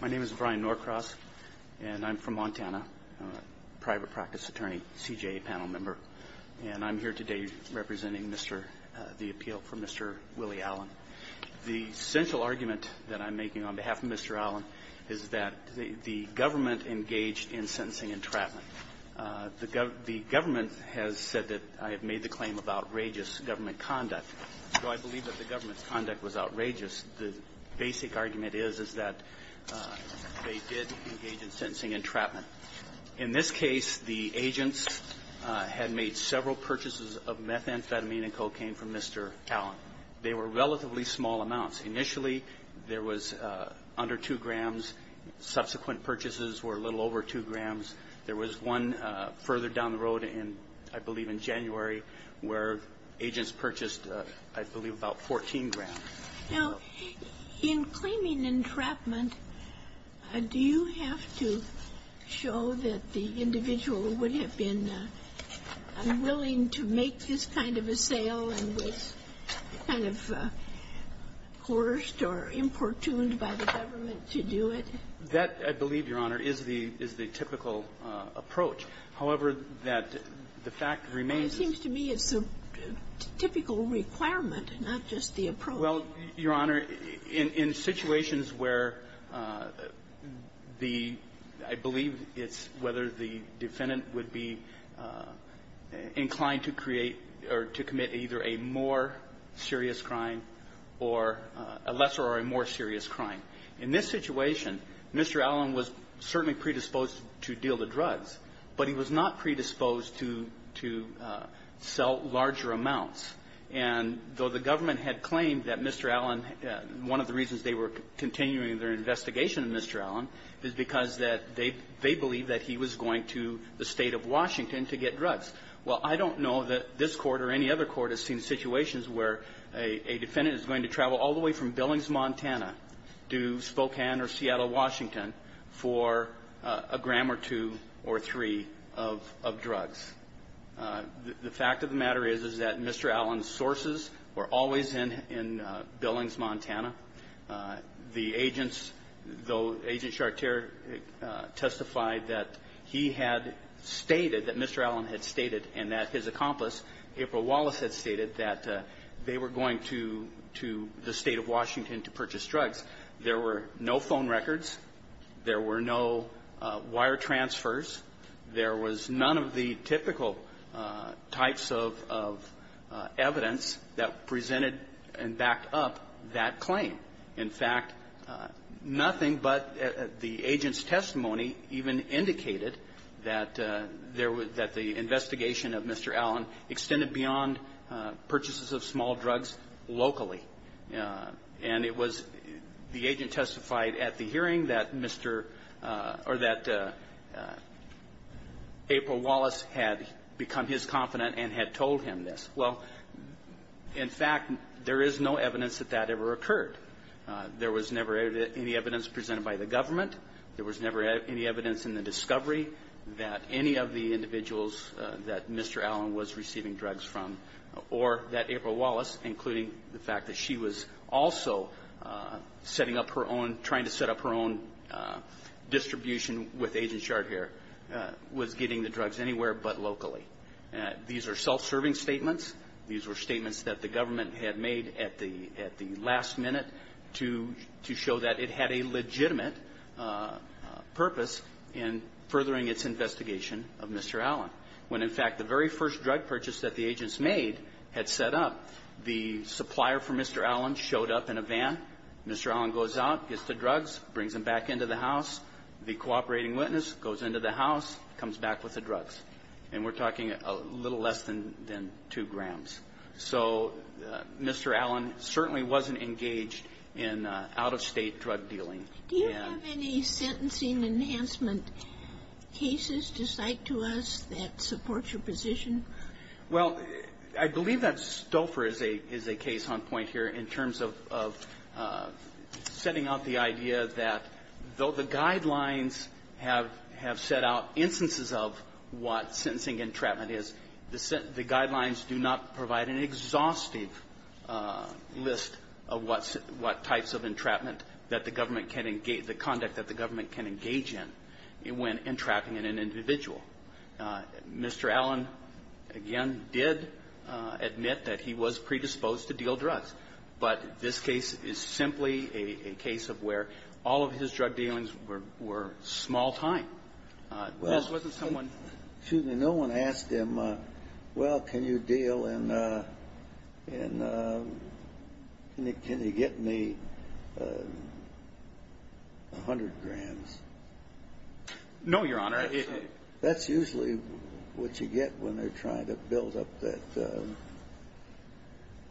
My name is Brian Norcross, and I'm from Montana. I'm a private practice attorney, CJA panel member, and I'm here today representing the appeal for Mr. Willie Allen. The central argument that I'm making on behalf of Mr. Allen is that the government engaged in sentencing and trafficking. The government has said that I have made the claim of outrageous government conduct. So I believe that the government's conduct was outrageous. The basic argument is, is that they did engage in sentencing and entrapment. In this case, the agents had made several purchases of methamphetamine and cocaine from Mr. Allen. They were relatively small amounts. Initially, there was under 2 grams. Subsequent purchases were a little over 2 grams. There was one further down the road in, I believe in January, where agents purchased, I believe, about 14 grams. Now, in claiming entrapment, do you have to show that the individual would have been unwilling to make this kind of a sale and was kind of coerced or importuned by the government to do it? That, I believe, Your Honor, is the typical approach. However, that the fact remains that it's a typical requirement, not just the approach. Well, Your Honor, in situations where the – I believe it's whether the defendant would be inclined to create or to commit either a more serious crime or a lesser or a more serious crime. In this situation, Mr. Allen was certainly predisposed to deal the drugs, but he was not predisposed to sell larger amounts. And though the government had claimed that Mr. Allen – one of the reasons they were continuing their investigation of Mr. Allen is because that they believe that he was going to the State of Washington to get drugs. Well, I don't know that this Court or any other court has seen situations where a defendant is going to travel all the way from Billings, Montana to Spokane or Seattle, Washington, for a gram or two or three of drugs. The fact of the matter is, is that Mr. Allen's sources were always in Billings, Montana. The agents – though Agent Chartier testified that he had stated – that Mr. Allen had stated and that his accomplice, April Wallace, had stated that they were going to the State of Washington to purchase drugs. There were no phone records. There were no wire transfers. There was none of the typical types of evidence that presented and backed up that claim. In fact, nothing but the agent's testimony even indicated that there was – that the investigation of Mr. Allen extended beyond purchases of small drugs locally. And it was – the agent testified at the hearing that Mr. – or that April Wallace had become his confidant and had told him this. Well, in fact, there is no evidence that that ever occurred. There was never any evidence presented by the government. There was never any evidence in the discovery that any of the individuals that Mr. Allen was receiving drugs from, or that April Wallace, including the fact that she was also setting up her own – trying to set up her own distribution with Agent Chartier, was getting the drugs anywhere but locally. These are self-serving statements. These were statements that the government had made at the – at the last minute to – to show that it had a legitimate purpose in furthering its investigation of Mr. Allen. When, in fact, the very first drug purchase that the agents made had set up, the supplier for Mr. Allen showed up in a van. Mr. Allen goes out, gets the drugs, brings them back into the house. The cooperating witness goes into the house, comes back with the drugs. And we're talking a little less than – than two grams. So Mr. Allen certainly wasn't engaged in out-of-state drug dealing. And… Do you have any sentencing enhancement cases to cite to us that support your position? Well, I believe that Stouffer is a – is a case on point here in terms of – of setting out the idea that though the guidelines have – have set out instances of what sentencing entrapment is, the – the guidelines do not provide an exhaustive list of what – what types of entrapment that the government can engage – the conduct that the government can engage in when entrapping an individual. Mr. Allen, again, did admit that he was predisposed to deal drugs. But this case is simply a – a case of where all of his drug dealings were – were small time. Well, excuse me. No one asked him, well, can you deal in – in – can you get me 100 grams? No, Your Honor. That's usually what you get when they're trying to build up that –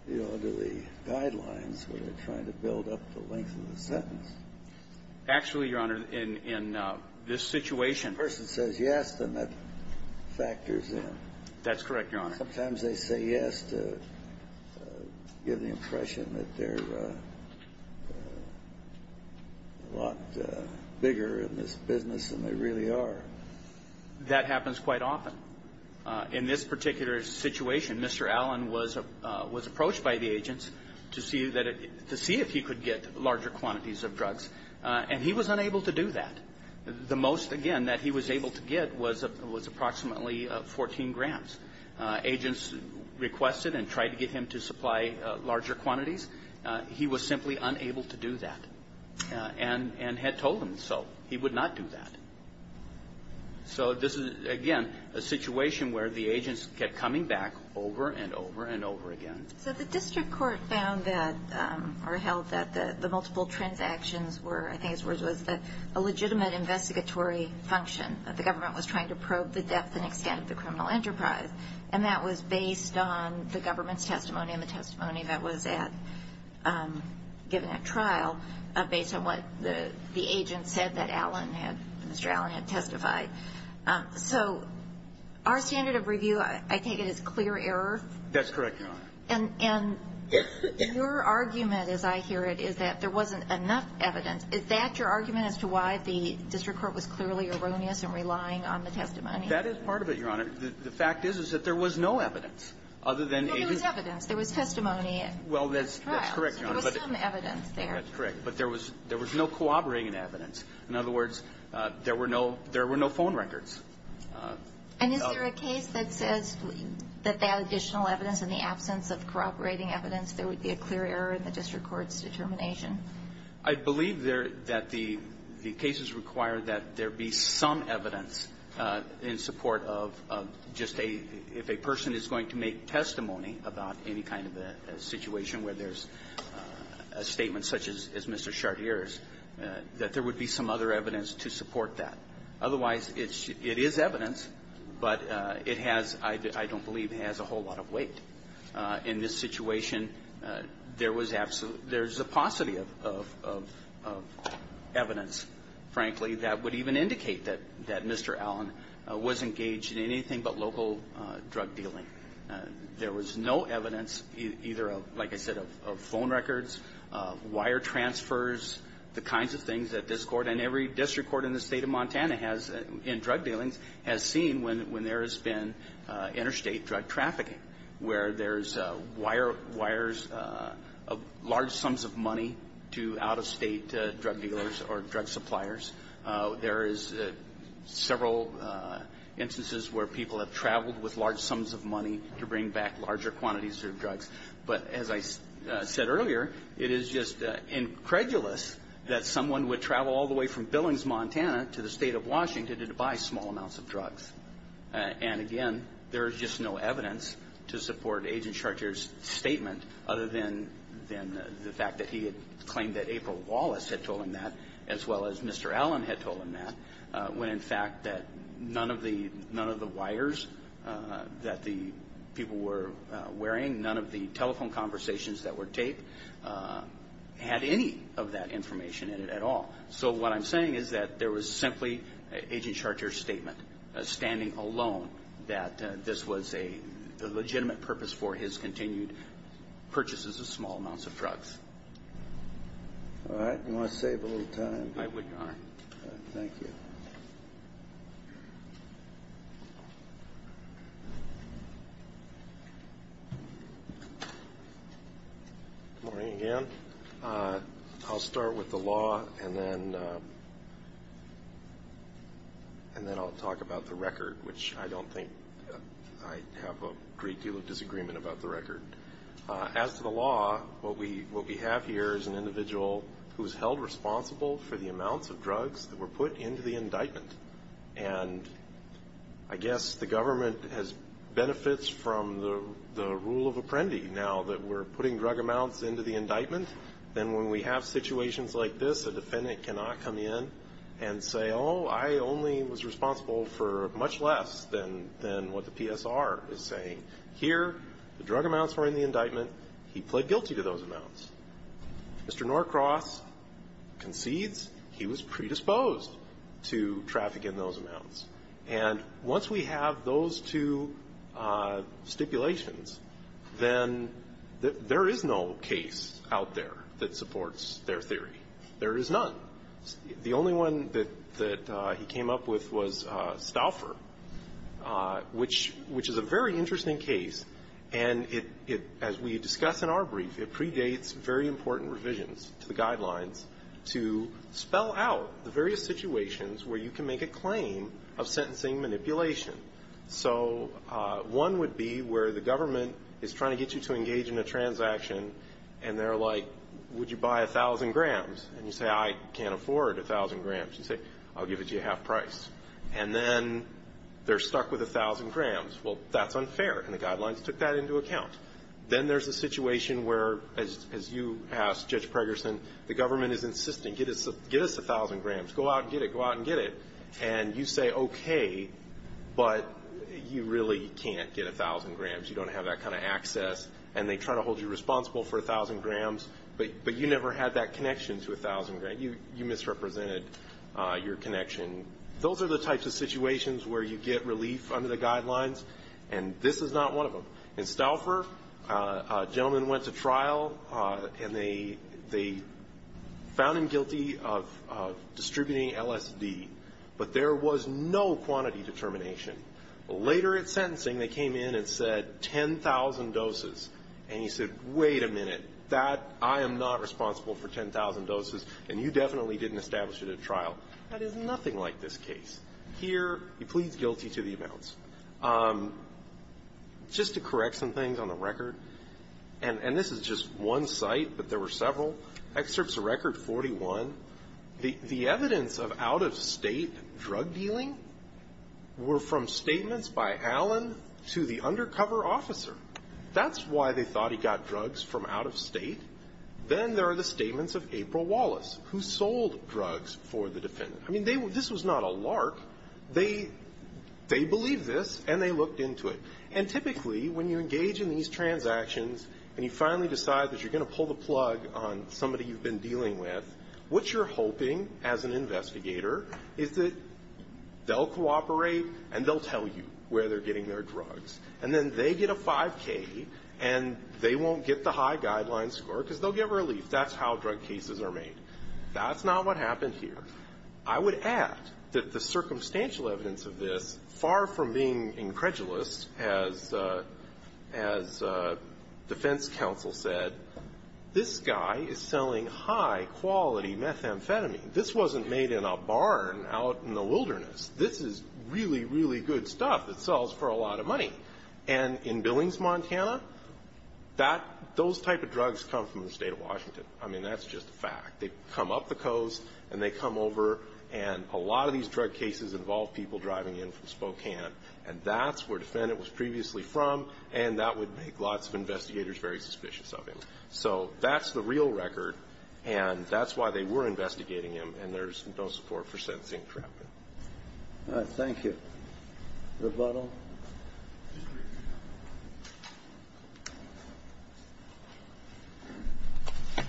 you know, the guidelines, when they're trying to build up the length of the sentence. Yes. And that factors in. That's correct, Your Honor. Sometimes they say yes to give the impression that they're a lot bigger in this business than they really are. That happens quite often. In this particular situation, Mr. Allen was – was approached by the agents to see that – to see if he could get larger quantities of drugs. And he was unable to do that. The most, again, that he was able to get was – was approximately 14 grams. Agents requested and tried to get him to supply larger quantities. He was simply unable to do that and – and had told them so. He would not do that. So this is, again, a situation where the agents kept coming back over and over and over again. So the district court found that – or held that the – the multiple transactions were, I think his words was, a legitimate investigatory function. The government was trying to probe the depth and extent of the criminal enterprise. And that was based on the government's testimony and the testimony that was at – given at trial based on what the – the agents said that Allen had – Mr. Allen had testified. So our standard of review, I take it, is clear error? That's correct, Your Honor. And – and your argument, as I hear it, is that there wasn't enough evidence. Is that your argument as to why the district court was clearly erroneous and relying on the testimony? That is part of it, Your Honor. The – the fact is, is that there was no evidence other than agents – Well, there was evidence. There was testimony at trial. Well, that's – that's correct, Your Honor. So there was some evidence there. That's correct. But there was – there was no corroborating evidence. In other words, there were no – there were no phone records. And is there a case that says that that additional evidence in the absence of corroborating evidence, there would be a clear error in the district court's determination? I believe there – that the cases require that there be some evidence in support of just a – if a person is going to make testimony about any kind of a situation where there's a statement such as Mr. Chartier's, that there would be some other It is evidence, but it has – I don't believe it has a whole lot of weight. In this situation, there was absolute – there's a paucity of – of – of evidence, frankly, that would even indicate that – that Mr. Allen was engaged in anything but local drug dealing. There was no evidence either of, like I said, of phone records, wire transfers, the kinds of things that this Court and every district court in the state of Montana has – in drug dealings has seen when – when there has been interstate drug trafficking, where there's wire – wires of large sums of money to out-of-state drug dealers or drug suppliers. There is several instances where people have traveled with large sums of money to bring back larger quantities of drugs. But as I said earlier, it is just incredulous that someone would travel all the way from Billings, Montana, to the state of Washington to buy small amounts of drugs. And again, there is just no evidence to support Agent Chartier's statement other than – than the fact that he had claimed that April Wallace had told him that, as well as Mr. Allen had told him that, when in fact that none of the – none of the wires that the people were dealing with had any of that information in it at all. So what I'm saying is that there was simply Agent Chartier's statement, standing alone, that this was a legitimate purpose for his continued purchases of small amounts of drugs. All right. Do you want to save a little time? I would not. Thank you. Good morning again. I'll start with the law, and then – and then I'll talk about the record, which I don't think – I have a great deal of disagreement about the individual who's held responsible for the amounts of drugs that were put into the indictment. And I guess the government has benefits from the – the rule of apprendi now that we're putting drug amounts into the indictment. Then when we have situations like this, a defendant cannot come in and say, oh, I only was responsible for much less than – than what the PSR is saying. Here, the drug amounts. Mr. Norcross concedes he was predisposed to trafficking those amounts. And once we have those two stipulations, then there is no case out there that supports their theory. There is none. The only one that – that he came up with was Stauffer, which – which is a very interesting case. And it – it – as we discuss in our brief, it predates very important revisions to the guidelines to spell out the various situations where you can make a claim of sentencing manipulation. So one would be where the government is trying to get you to engage in a transaction, and they're like, would you buy 1,000 grams? And you say, I can't afford 1,000 grams. You say, I'll give it to you at half price. And then they're stuck with 1,000 grams. Well, that's unfair. And the guidelines took that into account. Then there's a situation where, as – as you asked, Judge Pregerson, the government is insisting, get us – get us 1,000 grams. Go out and get it. Go out and get it. And you say, okay, but you really can't get 1,000 grams. You don't have that kind of access. And they try to hold you responsible for 1,000 grams, but – but you never had that connection to 1,000 grams. You misrepresented your connection. Those are the types of situations where you get relief under the guidelines, and this is not one of them. In Stouffer, a gentleman went to trial, and they – they found him guilty of distributing LSD, but there was no quantity determination. Later at sentencing, they came in and said 10,000 doses. And he said, wait a minute. That – I am not responsible for 10,000 doses, and you definitely didn't establish it at trial. That is nothing like this case. Here, he pleads guilty to the amounts. Just to correct some things on the record, and – and this is just one site, but there were several. Excerpts of Record 41, the – the evidence of out-of-state drug dealing were from statements by Allen to the undercover officer. That's why they thought he got drugs from out-of-state. Then there are the statements of April Wallace, who sold drugs for the defendant. I mean, they – this was not a lark. They – they believed this, and they looked into it. And typically, when you engage in these transactions, and you finally decide that you're going to pull the plug on somebody you've been dealing with, what you're hoping as an investigator is that they'll cooperate, and they'll tell you where they're getting their drugs. And then they get a 5K, and they won't get the high That's not what happened here. I would add that the circumstantial evidence of this, far from being incredulous, as – as defense counsel said, this guy is selling high-quality methamphetamine. This wasn't made in a barn out in the wilderness. This is really, really good stuff that sells for a lot of money. And in Billings, Montana, that – those type of drugs come from the state of Washington. I mean, that's just a fact. They come up the coast, and they come over, and a lot of these drug cases involve people driving in from Spokane. And that's where the defendant was previously from, and that would make lots of investigators very suspicious of him. So that's the real record, and that's why they were investigating him, and there's no support for sentencing for that. All right. Thank you. Rebuttal?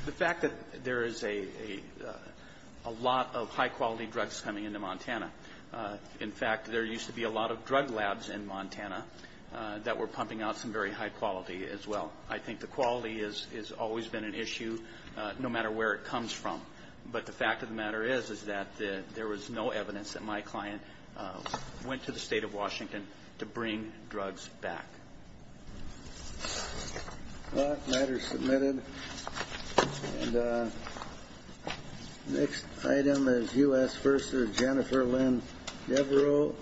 The fact that there is a lot of high-quality drugs coming into Montana – in fact, there used to be a lot of drug labs in Montana that were pumping out some very high-quality as well. I think the quality has always been an issue, no doubt. But the fact of the matter is, is that there was no evidence that my client went to the state of Washington to bring drugs back. Well, that matter's submitted. And next item is U.S. vs. Jennifer Lynn Devereaux.